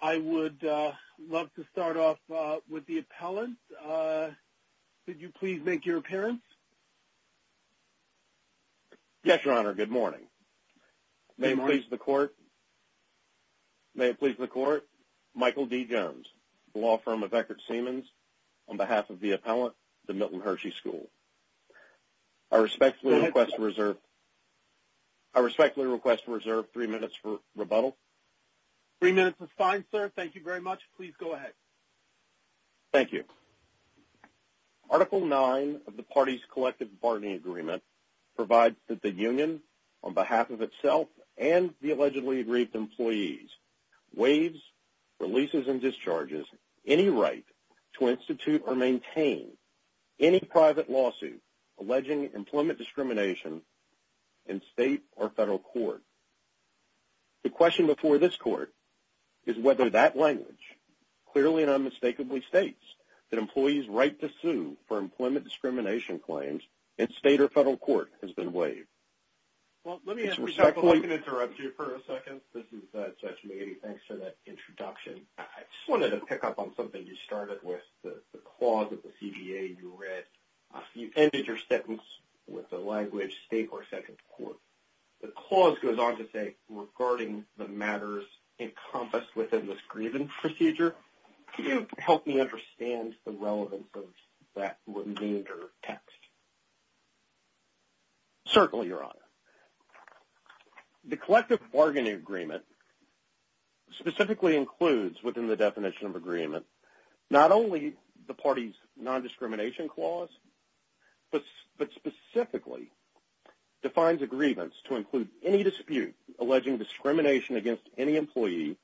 I would love to start off with the appellant. Could you please make your appearance? Yes, Your Honor, good morning. May it please the Court, Michael D. Jones, the law firm of Eckert Siemens, on behalf of the appellant, the Milton Hershey School. I respectfully request to reserve three minutes for rebuttal. Three minutes is fine, sir. Thank you very much. Please go ahead. Thank you. Article 9 of the parties' collective bargaining agreement provides that the union, on behalf of itself and the allegedly aggrieved employees, any private lawsuit alleging employment discrimination in state or federal court. The question before this Court is whether that language clearly and unmistakably states that employees' right to sue for employment discrimination claims in state or federal court has been waived. Let me interrupt you for a second. This is Judge Meady. Thanks for that introduction. I just wanted to pick up on something you started with, the clause of the CBA you read. You ended your sentence with the language, state or federal court. The clause goes on to say, regarding the matters encompassed within this grievance procedure, could you help me understand the relevance of that remainder of text? Certainly, Your Honor. The collective bargaining agreement specifically includes within the definition of agreement not only the parties' nondiscrimination clause, but specifically defines a grievance to include any dispute alleging discrimination against any employee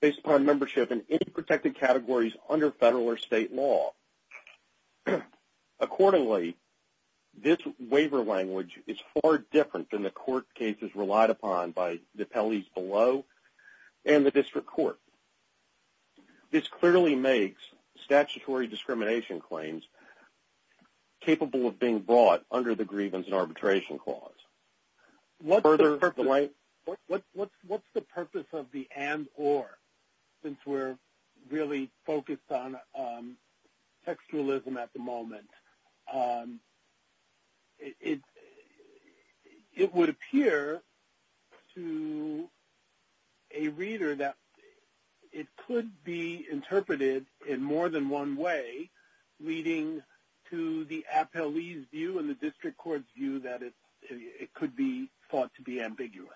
based upon membership in any protected categories under federal or state law. Accordingly, this waiver language is far different than the court cases relied upon by the appellees below and the district court. This clearly makes statutory discrimination claims capable of being brought under the grievance and arbitration clause. What's the purpose of the and or, since we're really focused on textualism at the moment? It would appear to a reader that it could be interpreted in more than one way, leading to the appellee's view and the district court's view that it could be thought to be ambiguous.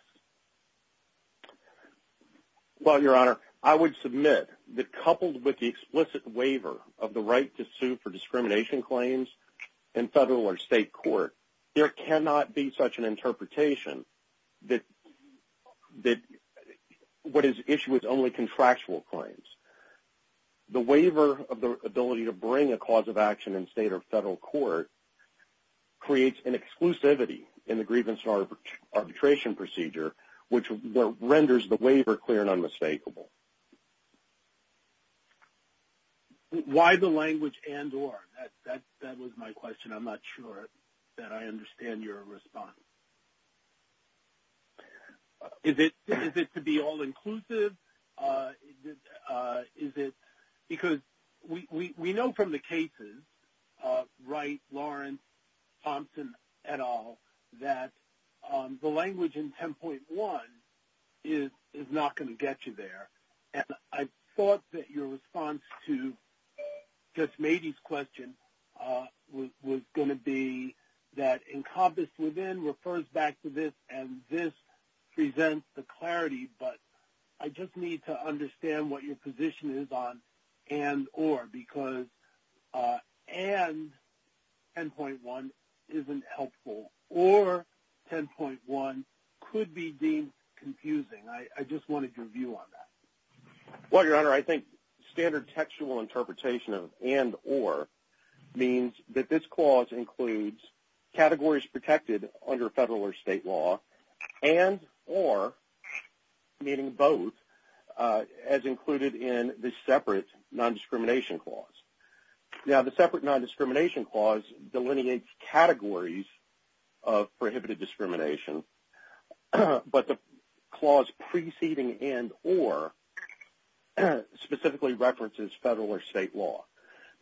Well, Your Honor, I would submit that coupled with the explicit waiver of the right to sue for discrimination claims in federal or state court, there cannot be such an interpretation that what is issued is only contractual claims. The waiver of the ability to bring a cause of action in state or federal court creates an exclusivity in the grievance and arbitration procedure, which renders the waiver clear and unmistakable. Why the language and or? That was my question. I'm not sure that I understand your response. Is it to be all inclusive? Is it because we know from the cases, Wright, Lawrence, Thompson, et al., that the language in 10.1 is not going to get you there. And I thought that your response to Judge Mady's question was going to be that encompassed within she refers back to this and this presents the clarity, but I just need to understand what your position is on and or, because and 10.1 isn't helpful or 10.1 could be deemed confusing. I just wanted your view on that. Well, Your Honor, I think standard textual interpretation of and or means that this clause includes categories protected under federal or state law and or, meaning both, as included in the separate nondiscrimination clause. Now, the separate nondiscrimination clause delineates categories of prohibited discrimination, but the clause preceding and or specifically references federal or state law.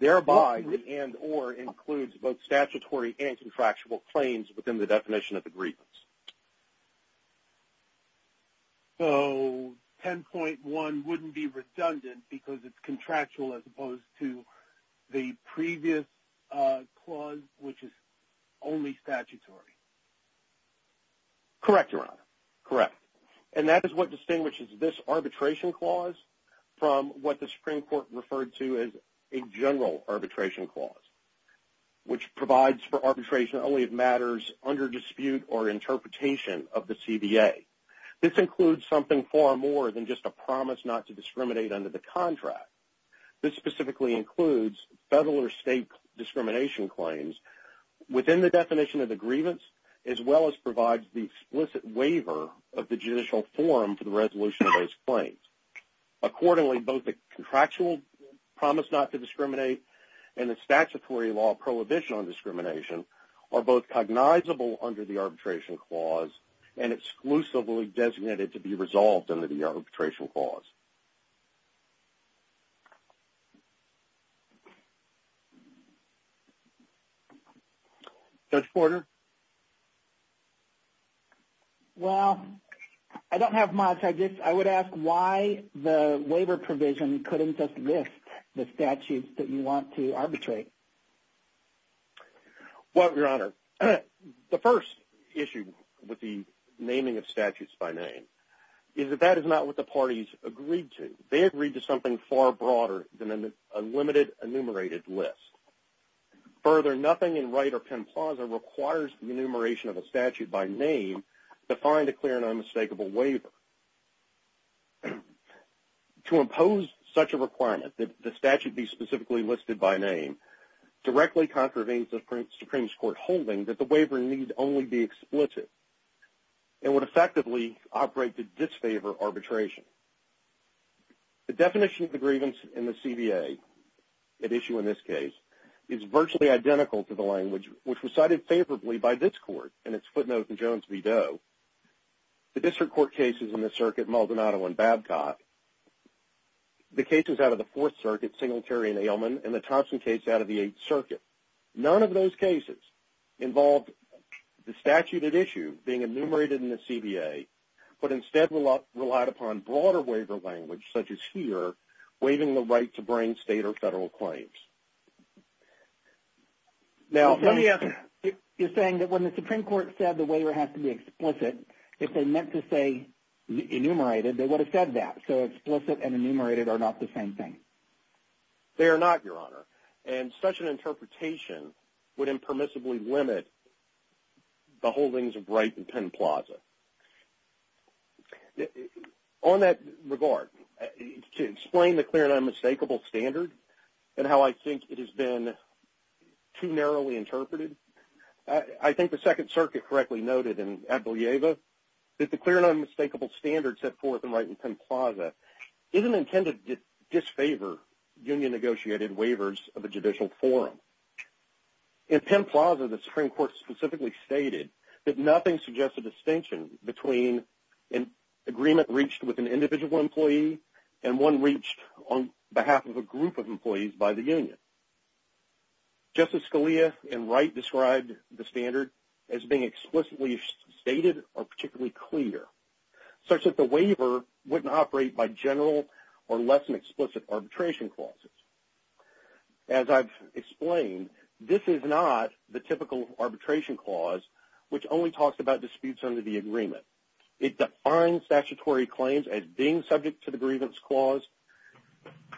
Thereby, the and or includes both statutory and contractual claims within the definition of agreements. So 10.1 wouldn't be redundant because it's contractual as opposed to the previous clause, which is only statutory. Correct, Your Honor. Correct. And that is what distinguishes this arbitration clause from what the Supreme Court referred to as a general arbitration clause, which provides for arbitration only if matters under dispute or interpretation of the CBA. This includes something far more than just a promise not to discriminate under the contract. This specifically includes federal or state discrimination claims within the definition of the grievance, as well as provides the explicit waiver of the judicial forum for the resolution of those claims. Accordingly, both the contractual promise not to discriminate and the statutory law prohibition on discrimination are both cognizable under the arbitration clause and exclusively designated to be resolved under the arbitration clause. Judge Porter? Well, I don't have much. I would ask why the waiver provision couldn't just list the statutes that you want to arbitrate? Well, Your Honor, the first issue with the naming of statutes by name is that that is not what the parties agree on. They agree to something far broader than a limited enumerated list. Further, nothing in Wright or Penn Plaza requires the enumeration of a statute by name to find a clear and unmistakable waiver. To impose such a requirement that the statute be specifically listed by name directly contravenes the Supreme Court holding that the waiver need only be explicit and would effectively operate to disfavor arbitration. The definition of the grievance in the CBA at issue in this case is virtually identical to the language which was cited favorably by this Court in its footnotes in Jones v. Doe, the district court cases in the circuit Maldonado and Babcock, the cases out of the Fourth Circuit, Singletary and Ailman, and the Thompson case out of the Eighth Circuit. None of those cases involved the statute at issue being enumerated in the CBA, but instead relied upon broader waiver language, such as here, waiving the right to bring state or federal claims. You're saying that when the Supreme Court said the waiver has to be explicit, if they meant to say enumerated, they would have said that. So explicit and enumerated are not the same thing. They are not, Your Honor. And such an interpretation would impermissibly limit the holdings of Wright and Penn Plaza. On that regard, to explain the clear and unmistakable standard and how I think it has been too narrowly interpreted, I think the Second Circuit correctly noted in Abdelieva that the clear and unmistakable standard set forth by Wright and Penn Plaza isn't intended to disfavor union-negotiated waivers of a judicial forum. In Penn Plaza, the Supreme Court specifically stated that nothing suggests a distinction between an agreement reached with an individual employee and one reached on behalf of a group of employees by the union. Justice Scalia and Wright described the standard as being explicitly stated or particularly clear, such that the waiver wouldn't operate by general or less than explicit arbitration clauses. As I've explained, this is not the typical arbitration clause, which only talks about disputes under the agreement. It defines statutory claims as being subject to the grievance clause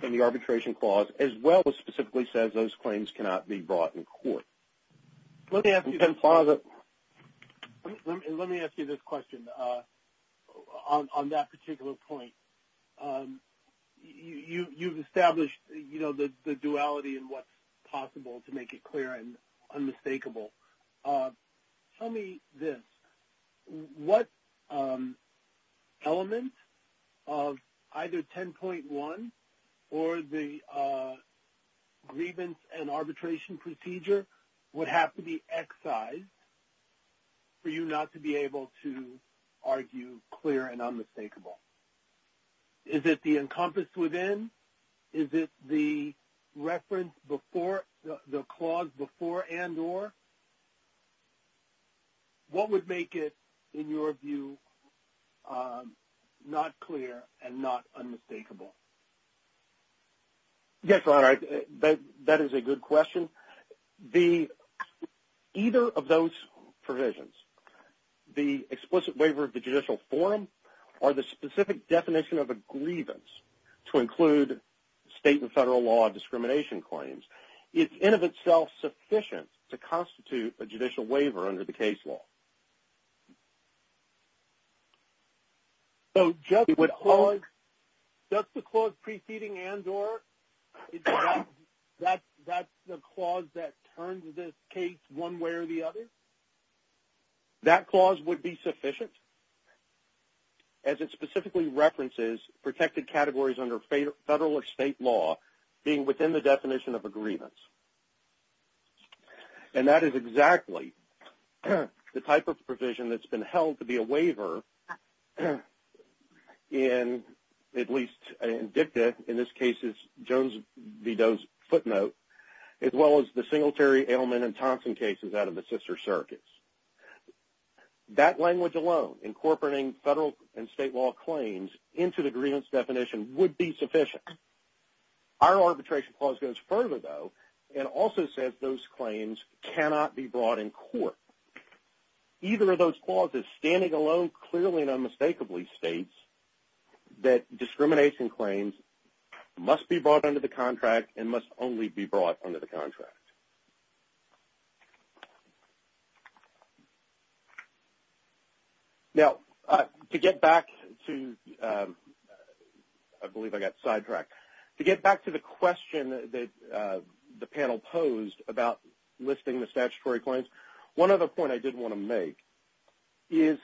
and the arbitration clause, as well as specifically says those claims cannot be brought in court. Let me ask you this question on that particular point. You've established the duality in what's possible to make it clear and unmistakable. Tell me this. What element of either 10.1 or the grievance and arbitration procedure would have to be excised for you not to be able to argue clear and unmistakable? Is it the encompassed within? Is it the reference before, the clause before and or? What would make it, in your view, not clear and not unmistakable? Yes, Ron, that is a good question. Either of those provisions, the explicit waiver of the judicial forum, or the specific definition of a grievance to include state and federal law discrimination claims, is in of itself sufficient to constitute a judicial waiver under the case law. So just the clause preceding and or, that's the clause that turns the case one way or the other? That clause would be sufficient as it specifically references protected categories under federal or state law being within the definition of a grievance. And that is exactly the type of provision that's been held to be a waiver in, at least in DICTA, in this case it's Jones v. Doe's footnote, as well as the Singletary, Edelman and Thompson cases out of the sister circuits. That language alone, incorporating federal and state law claims into the grievance definition would be sufficient. Our arbitration clause goes further, though, and also says those claims cannot be brought in court. Either of those clauses, standing alone clearly and unmistakably, states that discrimination claims must be brought under the contract and must only be brought under the contract. Now, to get back to, I believe I got sidetracked, to get back to the question that the panel posed about listing the statutory claims, one other point I did want to make is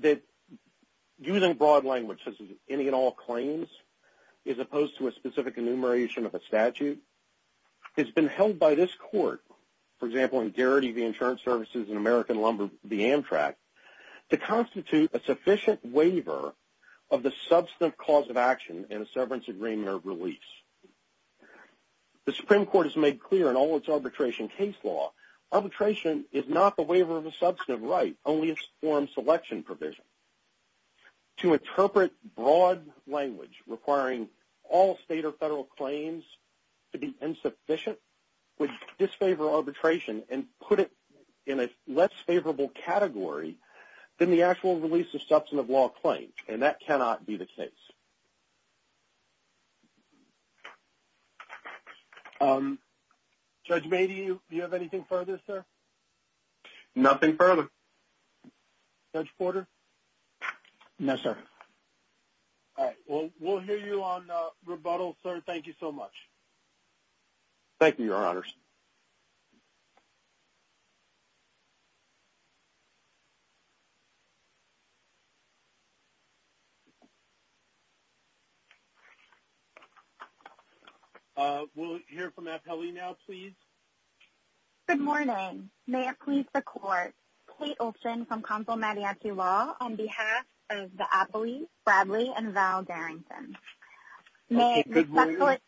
that using broad language such as any and all claims, as opposed to a specific enumeration of a statute, has been held by this court, for example, in Garrity v. Insurance Services and American Lumber v. Amtrak, to constitute a sufficient waiver of the substantive clause of action in a severance agreement or release. The Supreme Court has made clear in all its arbitration case law, arbitration is not the waiver of a substantive right, only a forum selection provision. To interpret broad language requiring all state or federal claims to be insufficient would disfavor arbitration and put it in a less favorable category than the actual release of substantive law claims, and that cannot be the case. Judge May, do you have anything further, sir? Nothing further. Judge Porter? No, sir. All right. Well, we'll hear you on rebuttal, sir. Thank you so much. Thank you, Your Honors. We'll hear from Abheli now, please. Good morning. May it please the Court, Kate Olson from Consul-Mediacy Law, on behalf of Abheli, Bradley, and Val Darrington. Good morning.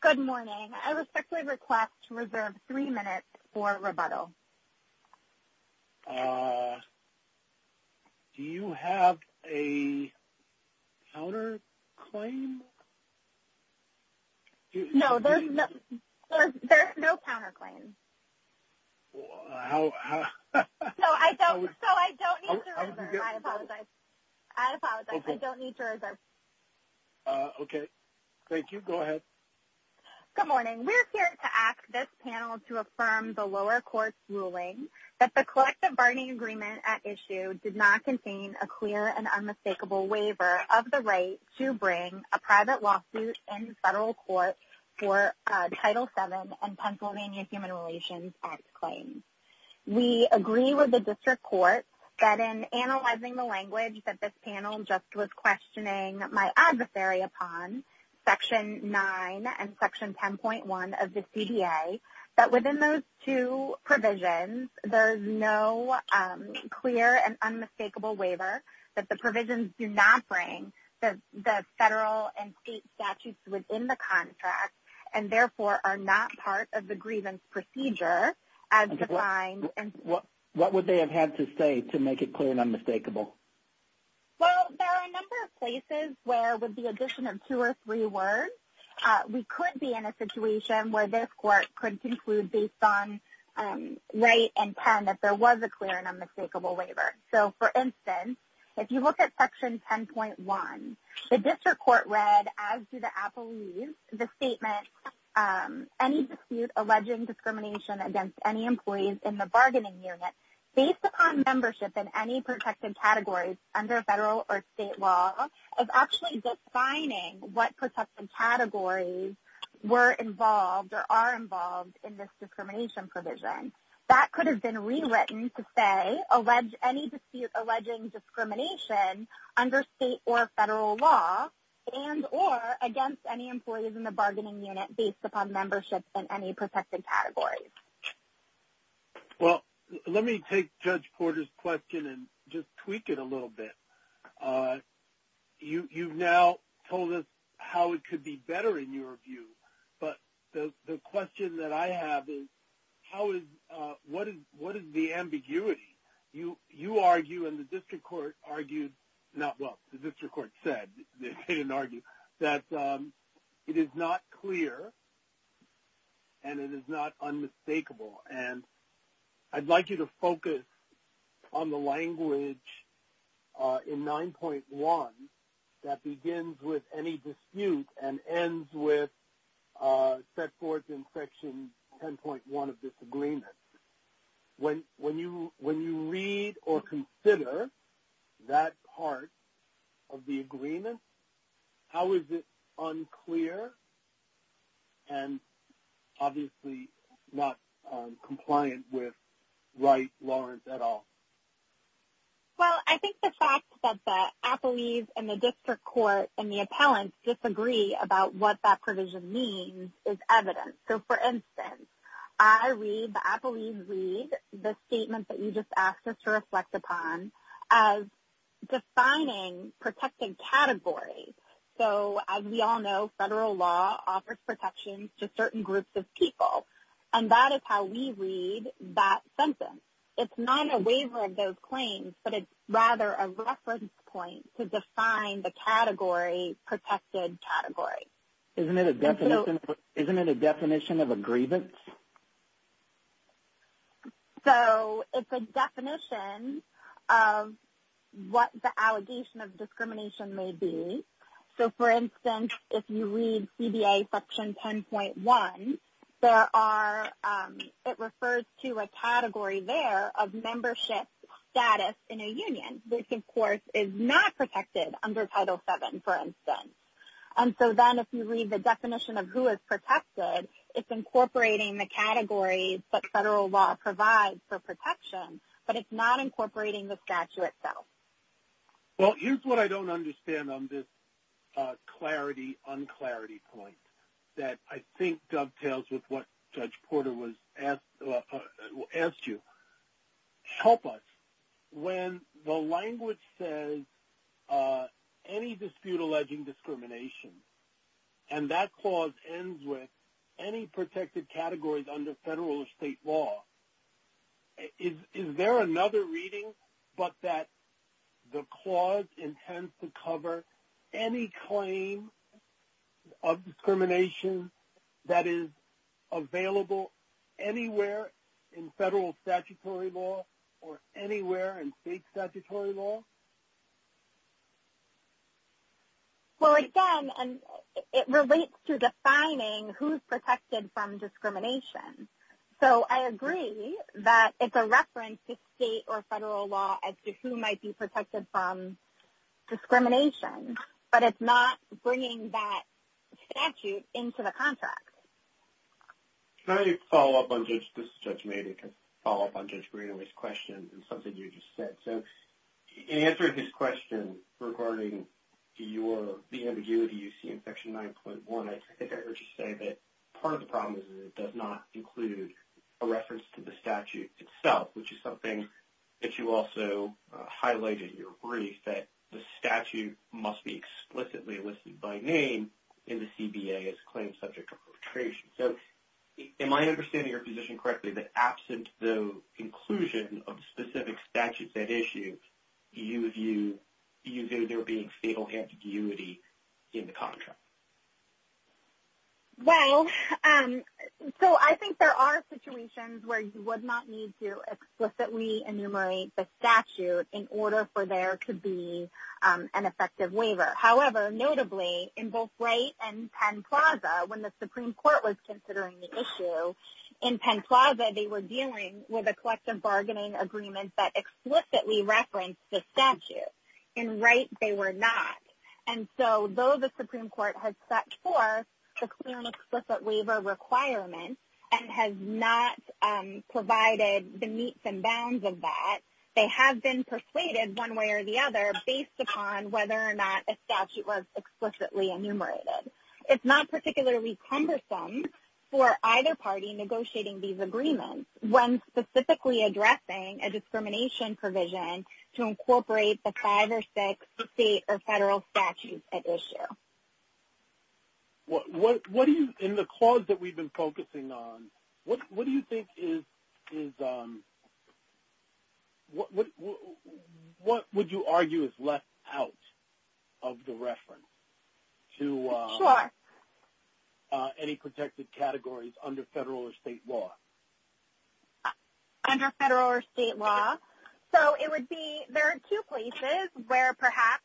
Good morning. I respectfully request to reserve three minutes for rebuttal. Do you have a counterclaim? No, there's no counterclaim. No, I don't need to reserve. I apologize. I apologize. I don't need to reserve. Okay. Thank you. Go ahead. Good morning. We're here to ask this panel to affirm the lower court's ruling that the collective bargaining agreement at issue did not contain a clear and unmistakable waiver of the right to bring a private lawsuit in federal court for Title VII and Pennsylvania Human Relations Act claims. We agree with the district court that in analyzing the language that this panel just was questioning my adversary upon, Section 9 and Section 10.1 of the CDA, that within those two provisions, there's no clear and unmistakable waiver that the provisions do not bring the federal and state statutes within the contract and therefore are not part of the grievance procedure as defined. What would they have had to say to make it clear and unmistakable? Well, there are a number of places where with the addition of two or three words, we could be in a situation where this court could conclude based on right and 10 that there was a clear and unmistakable waiver. So, for instance, if you look at Section 10.1, the district court read, as do the Abhelis, the statement, any dispute alleging discrimination against any employees in the bargaining unit, based upon membership in any protected categories under federal or state law, is actually defining what protected categories were involved or are involved in this discrimination provision. That could have been rewritten to say any dispute alleging discrimination under state or federal law and or against any employees in the bargaining unit based upon membership in any protected categories. Well, let me take Judge Porter's question and just tweak it a little bit. You've now told us how it could be better in your view, but the question that I have is, what is the ambiguity? You argue and the district court argued, well, the district court said, they didn't argue, that it is not clear and it is not unmistakable. And I'd like you to focus on the language in 9.1 that begins with any dispute and ends with set forth in Section 10.1 of this agreement. When you read or consider that part of the agreement, how is it unclear and obviously not compliant with Wright-Lawrence at all? Well, I think the fact that the Abhelis and the district court and the appellants disagree about what that provision means is evidence. So, for instance, I read, the Abhelis read the statement that you just asked us to reflect upon as defining protected categories. So, as we all know, federal law offers protections to certain groups of people, and that is how we read that sentence. It's not a waiver of those claims, but it's rather a reference point to define the category, protected category. Isn't it a definition of a grievance? So, it's a definition of what the allegation of discrimination may be. So, for instance, if you read CBA Section 10.1, it refers to a category there of membership status in a union, which, of course, is not protected under Title VII, for instance. And so then if you read the definition of who is protected, it's incorporating the categories that federal law provides for protection, but it's not incorporating the statute itself. Well, here's what I don't understand on this clarity-unclarity point that I think dovetails with what Judge Porter asked you. Help us. When the language says, any dispute alleging discrimination, and that clause ends with any protected categories under federal or state law, is there another reading but that the clause intends to cover any claim of discrimination that is available anywhere in federal statutory law or anywhere in state statutory law? Well, again, it relates to defining who is protected from discrimination. So, I agree that it's a reference to state or federal law as to who might be protected from discrimination, but it's not bringing that statute into the contract. Can I follow up on Judge Greenaway's question and something you just said? So, in answering his question regarding the ambiguity you see in Section 9.1, I think I heard you say that part of the problem is that it does not include a reference to the statute itself, which is something that you also highlighted in your brief, that the statute must be explicitly listed by name in the CBA as a claim subject to perpetration. So, am I understanding your position correctly that absent the inclusion of specific statutes at issue, you view there being fatal ambiguity in the contract? Well, so I think there are situations where you would not need to explicitly enumerate the statute in order for there to be an effective waiver. However, notably, in both Wright and Penn Plaza, when the Supreme Court was considering the issue, in Penn Plaza they were dealing with a collective bargaining agreement that explicitly referenced the statute. In Wright, they were not. And so, though the Supreme Court has set forth the clear and explicit waiver requirement and has not provided the meets and bounds of that, they have been persuaded one way or the other based upon whether or not a statute was explicitly enumerated. It's not particularly cumbersome for either party negotiating these agreements when specifically addressing a discrimination provision to incorporate the five or six state or federal statutes at issue. What do you, in the clause that we've been focusing on, what do you think is, what would you argue is left out of the reference to any protected categories under federal or state law? Under federal or state law, so it would be, there are two places where perhaps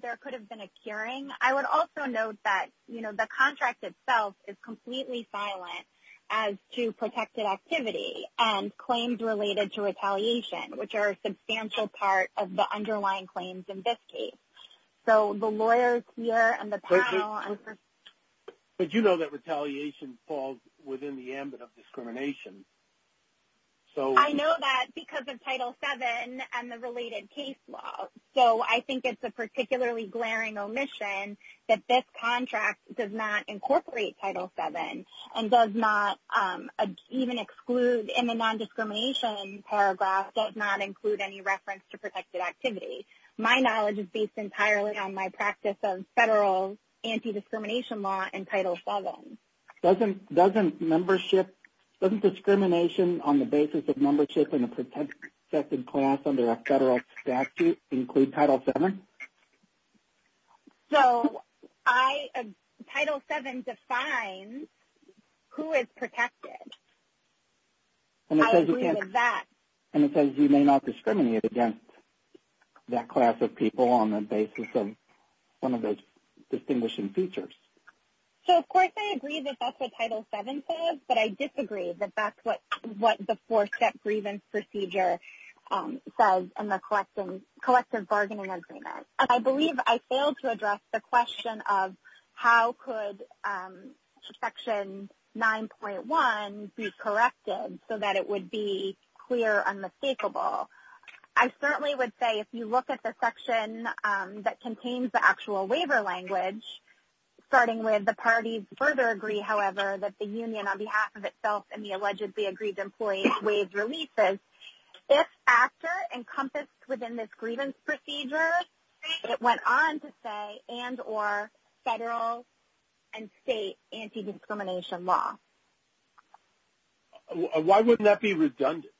there could have been a curing. I would also note that, you know, the contract itself is completely silent as to protected activity and claims related to retaliation, which are a substantial part of the underlying claims in this case. So, the lawyers here and the panel and the… But you know that retaliation falls within the ambit of discrimination. I know that because of Title VII and the related case law. So, I think it's a particularly glaring omission that this contract does not incorporate Title VII and does not even exclude in the non-discrimination paragraph, does not include any reference to protected activity. My knowledge is based entirely on my practice of federal anti-discrimination law and Title VII. Doesn't membership, doesn't discrimination on the basis of membership in a protected class under a federal statute include Title VII? So, I, Title VII defines who is protected. I agree with that. And it says you may not discriminate against that class of people on the basis of one of those distinguishing features. So, of course, I agree that that's what Title VII says, but I disagree that that's what the four-step grievance procedure says in the collective bargaining agreement. And I believe I failed to address the question of how could Section 9.1 be corrected so that it would be clear, unmistakable. I certainly would say if you look at the section that contains the actual waiver language, starting with the parties further agree, however, that the union on behalf of itself and the allegedly aggrieved employee waives releases, if after encompassed within this grievance procedure, it went on to say and or federal and state anti-discrimination law. Why wouldn't that be redundant?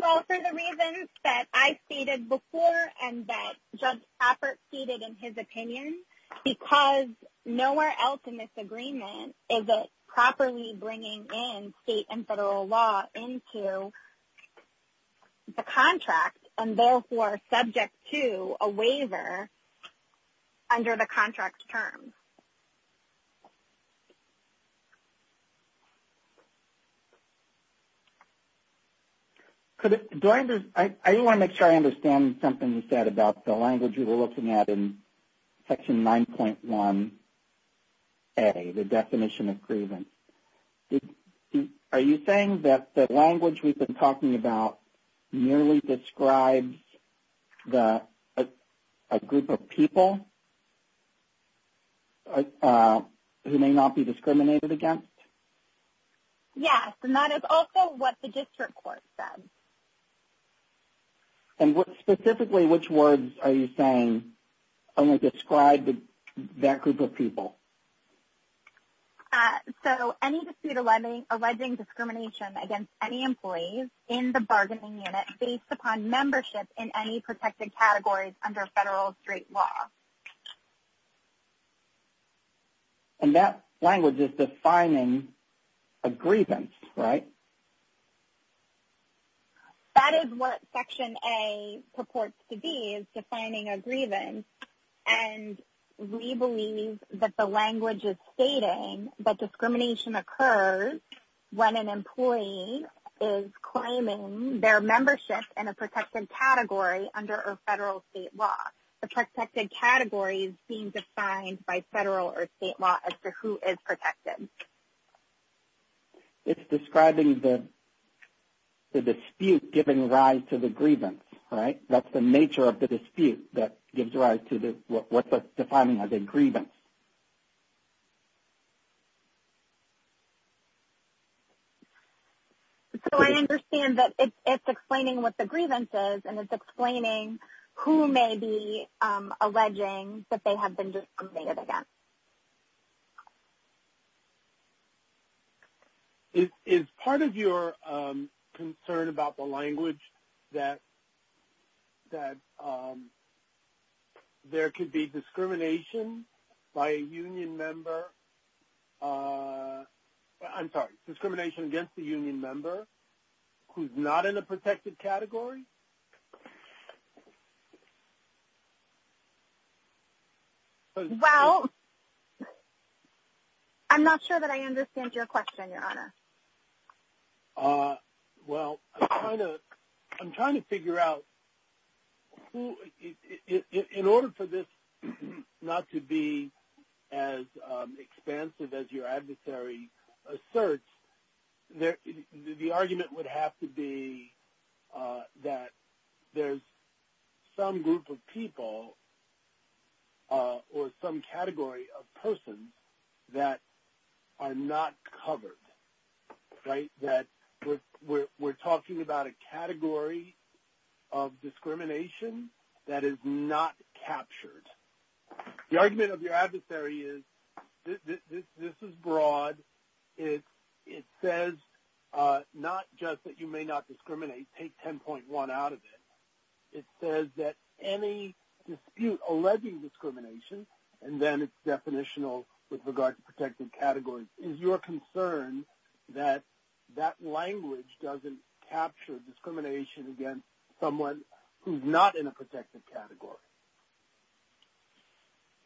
Well, for the reasons that I stated before and that Judge Hoppert stated in his opinion, because nowhere else in this agreement is it properly bringing in state and federal law into the contract and therefore subject to a waiver under the contract terms. I want to make sure I understand something you said about the language you were looking at in Section 9.1A, the definition of grievance. Are you saying that the language we've been talking about merely describes a group of people who may not be discriminated against? Yes, and that is also what the district court says. And specifically which words are you saying only describe that group of people? So any dispute alleging discrimination against any employees in the bargaining unit based upon membership in any protected categories under federal or state law. And that language is defining a grievance, right? That is what Section A purports to be, is defining a grievance. And we believe that the language is stating that discrimination occurs when an employee is claiming their membership in a protected category under a federal state law. The protected category is being defined by federal or state law as to who is protected. It's describing the dispute giving rise to the grievance, right? That's the nature of the dispute that gives rise to what's defining as a grievance. So I understand that it's explaining what the grievance is and it's explaining who may be alleging that they have been discriminated against. Is part of your concern about the language that there could be discrimination by a union member – I'm sorry, discrimination against a union member who's not in a protected category? Well, I'm not sure that I understand your question, Your Honor. Well, I'm trying to figure out – in order for this not to be as expansive as your adversary asserts, the argument would have to be that there's some group of people or some category of persons that are not covered. Right? That we're talking about a category of discrimination that is not captured. The argument of your adversary is this is broad. It says not just that you may not discriminate. Take 10.1 out of it. It says that any dispute alleging discrimination, and then it's definitional with regard to protected categories. Is your concern that that language doesn't capture discrimination against someone who's not in a protected category?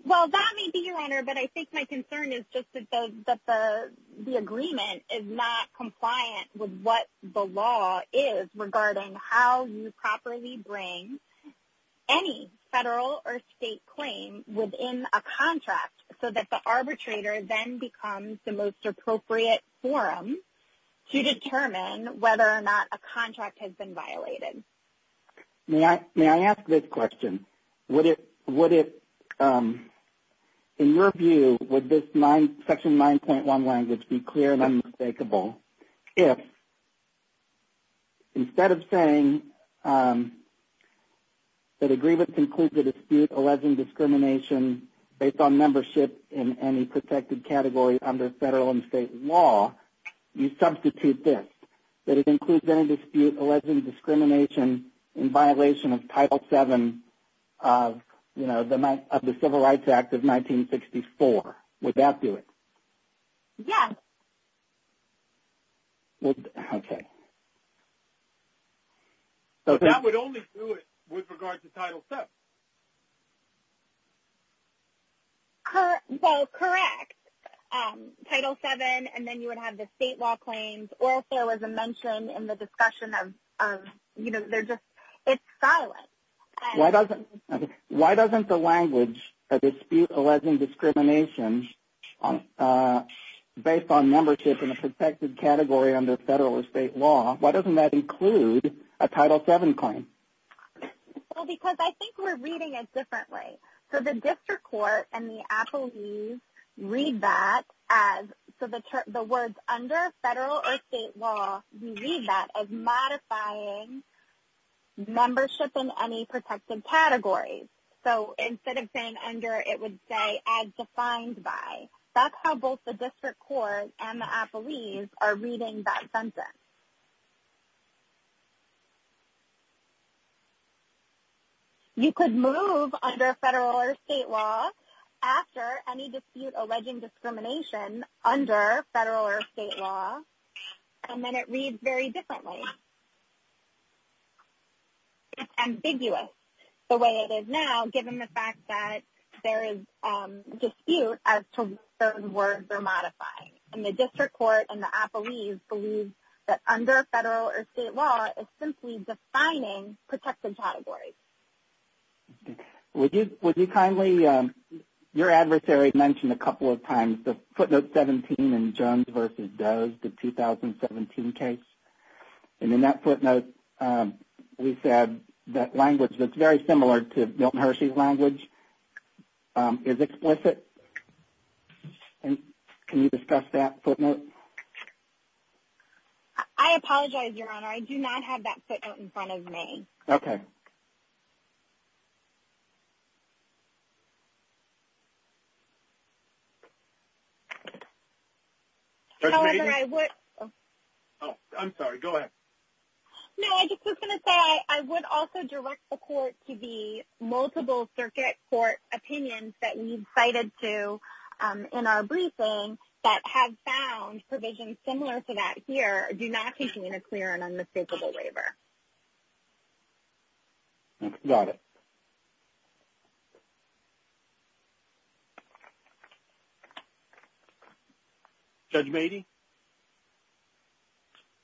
Well, that may be, Your Honor, but I think my concern is just that the agreement is not compliant with what the law is regarding how you properly bring any federal or state claim within a contract so that the arbitrator then becomes the most appropriate forum to determine whether or not a contract has been violated. May I ask this question? Would it – in your view, would this section 9.1 language be clear and unmistakable if, instead of saying that agreements include the dispute alleging discrimination based on membership in any protected category under federal and state law, you substitute this? That it includes any dispute alleging discrimination in violation of Title VII of the Civil Rights Act of 1964. Would that do it? Yes. Okay. That would only do it with regard to Title VII. Well, correct. Title VII, and then you would have the state law claims, or if there was a mention in the discussion of – you know, they're just – it's silent. Why doesn't the language dispute alleging discrimination based on membership in a protected category under federal or state law, why doesn't that include a Title VII claim? Well, because I think we're reading it differently. So the district court and the appellees read that as – so the words under federal or state law, we read that as modifying membership in any protected category. So instead of saying under, it would say as defined by. That's how both the district court and the appellees are reading that sentence. You could move under federal or state law after any dispute alleging discrimination under federal or state law, and then it reads very differently. It's ambiguous the way it is now, given the fact that there is dispute as to certain words are modified. And the district court and the appellees believe that under federal or state law is simply defining protected categories. Would you kindly – your adversary mentioned a couple of times the footnote 17 in Jones v. Does, the 2017 case. And in that footnote, we said that language that's very similar to Milton Hershey's language is explicit. And can you discuss that footnote? I apologize, Your Honor. I do not have that footnote in front of me. Okay. However, I would – Oh, I'm sorry. Go ahead. No, I just was going to say I would also direct the court to the multiple circuit court opinions that we've cited to in our briefing that have found provisions similar to that here do not contain a clear and unmistakable waiver. Got it. Judge Mady?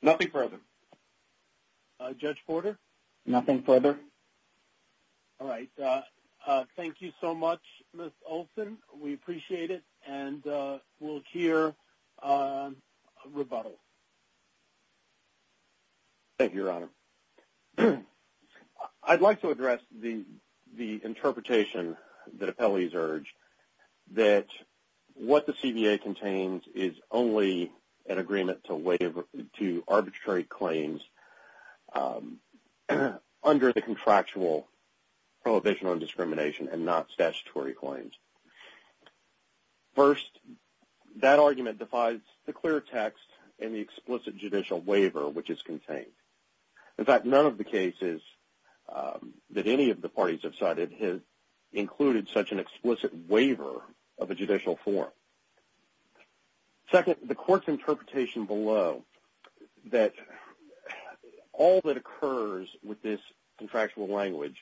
Nothing further. Judge Porter? Nothing further. All right. Thank you so much, Ms. Olson. We appreciate it. And we'll hear a rebuttal. Thank you, Your Honor. I'd like to address the interpretation that appellees urge that what the CBA contains is only an agreement to arbitrary claims under the contractual prohibition on discrimination and not statutory claims. First, that argument defies the clear text and the explicit judicial waiver which is contained. In fact, none of the cases that any of the parties have cited has included such an explicit waiver of a judicial form. Second, the court's interpretation below that all that occurs with this contractual language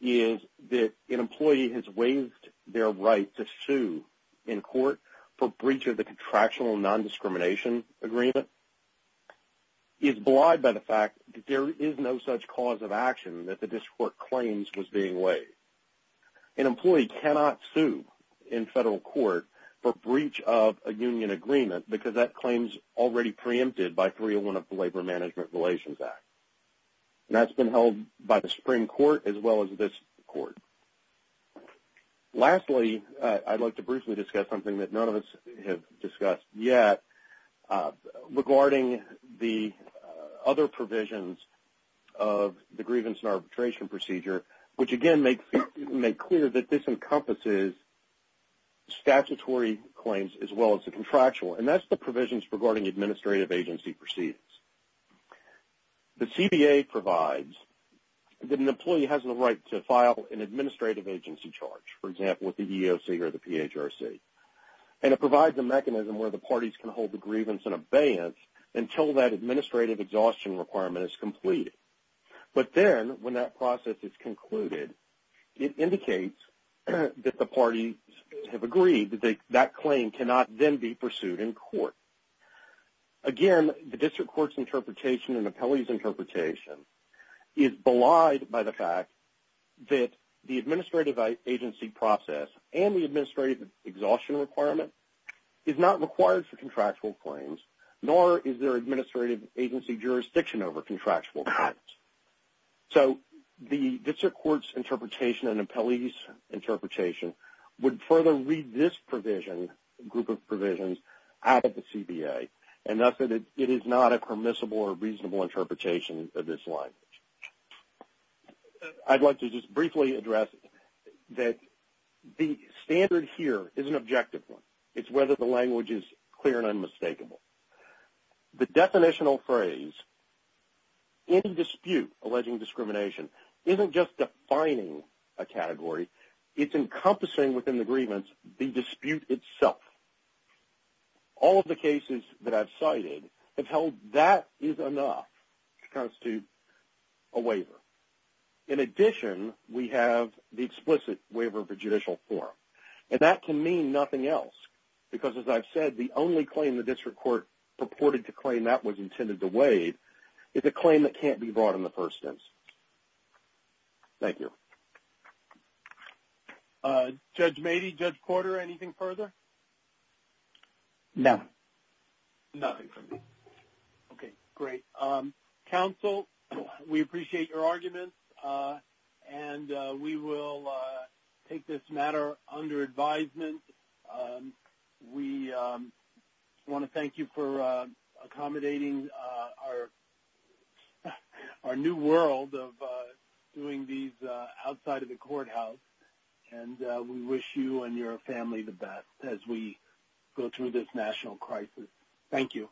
is that an employee has waived their right to sue in court for breach of the contractual non-discrimination agreement is belied by the fact that there is no such cause of action that the district court claims was being waived. An employee cannot sue in federal court for breach of a union agreement because that claim is already preempted by 301 of the Labor Management Relations Act. And that's been held by the Supreme Court as well as this court. Lastly, I'd like to briefly discuss something that none of us have discussed yet regarding the other provisions of the grievance and arbitration procedure, which again make clear that this encompasses statutory claims as well as the contractual. And that's the provisions regarding administrative agency proceedings. The CBA provides that an employee has the right to file an administrative agency charge, for example, with the EEOC or the PHRC. And it provides a mechanism where the parties can hold the grievance in abeyance until that administrative exhaustion requirement is completed. But then, when that process is concluded, it indicates that the parties have agreed that that claim cannot then be pursued in court. Again, the district court's interpretation and the appellee's interpretation is belied by the fact that the administrative agency process and the administrative exhaustion requirement is not required for contractual claims, nor is there administrative agency jurisdiction over contractual claims. So the district court's interpretation and the appellee's interpretation would further read this group of provisions out of the CBA, and thus it is not a permissible or reasonable interpretation of this language. I'd like to just briefly address that the standard here is an objective one. It's whether the language is clear and unmistakable. The definitional phrase, any dispute alleging discrimination, isn't just defining a category. It's encompassing within the grievance the dispute itself. All of the cases that I've cited have held that is enough to constitute a waiver. In addition, we have the explicit waiver of a judicial form. And that can mean nothing else because, as I've said, the only claim the district court purported to claim that was intended to waive is a claim that can't be brought in the first instance. Thank you. Judge Mady, Judge Corder, anything further? No. Nothing from me. Okay, great. Counsel, we appreciate your arguments, and we will take this matter under advisement. We want to thank you for accommodating our new world of doing these outside of the courthouse, and we wish you and your family the best as we go through this national crisis. Thank you.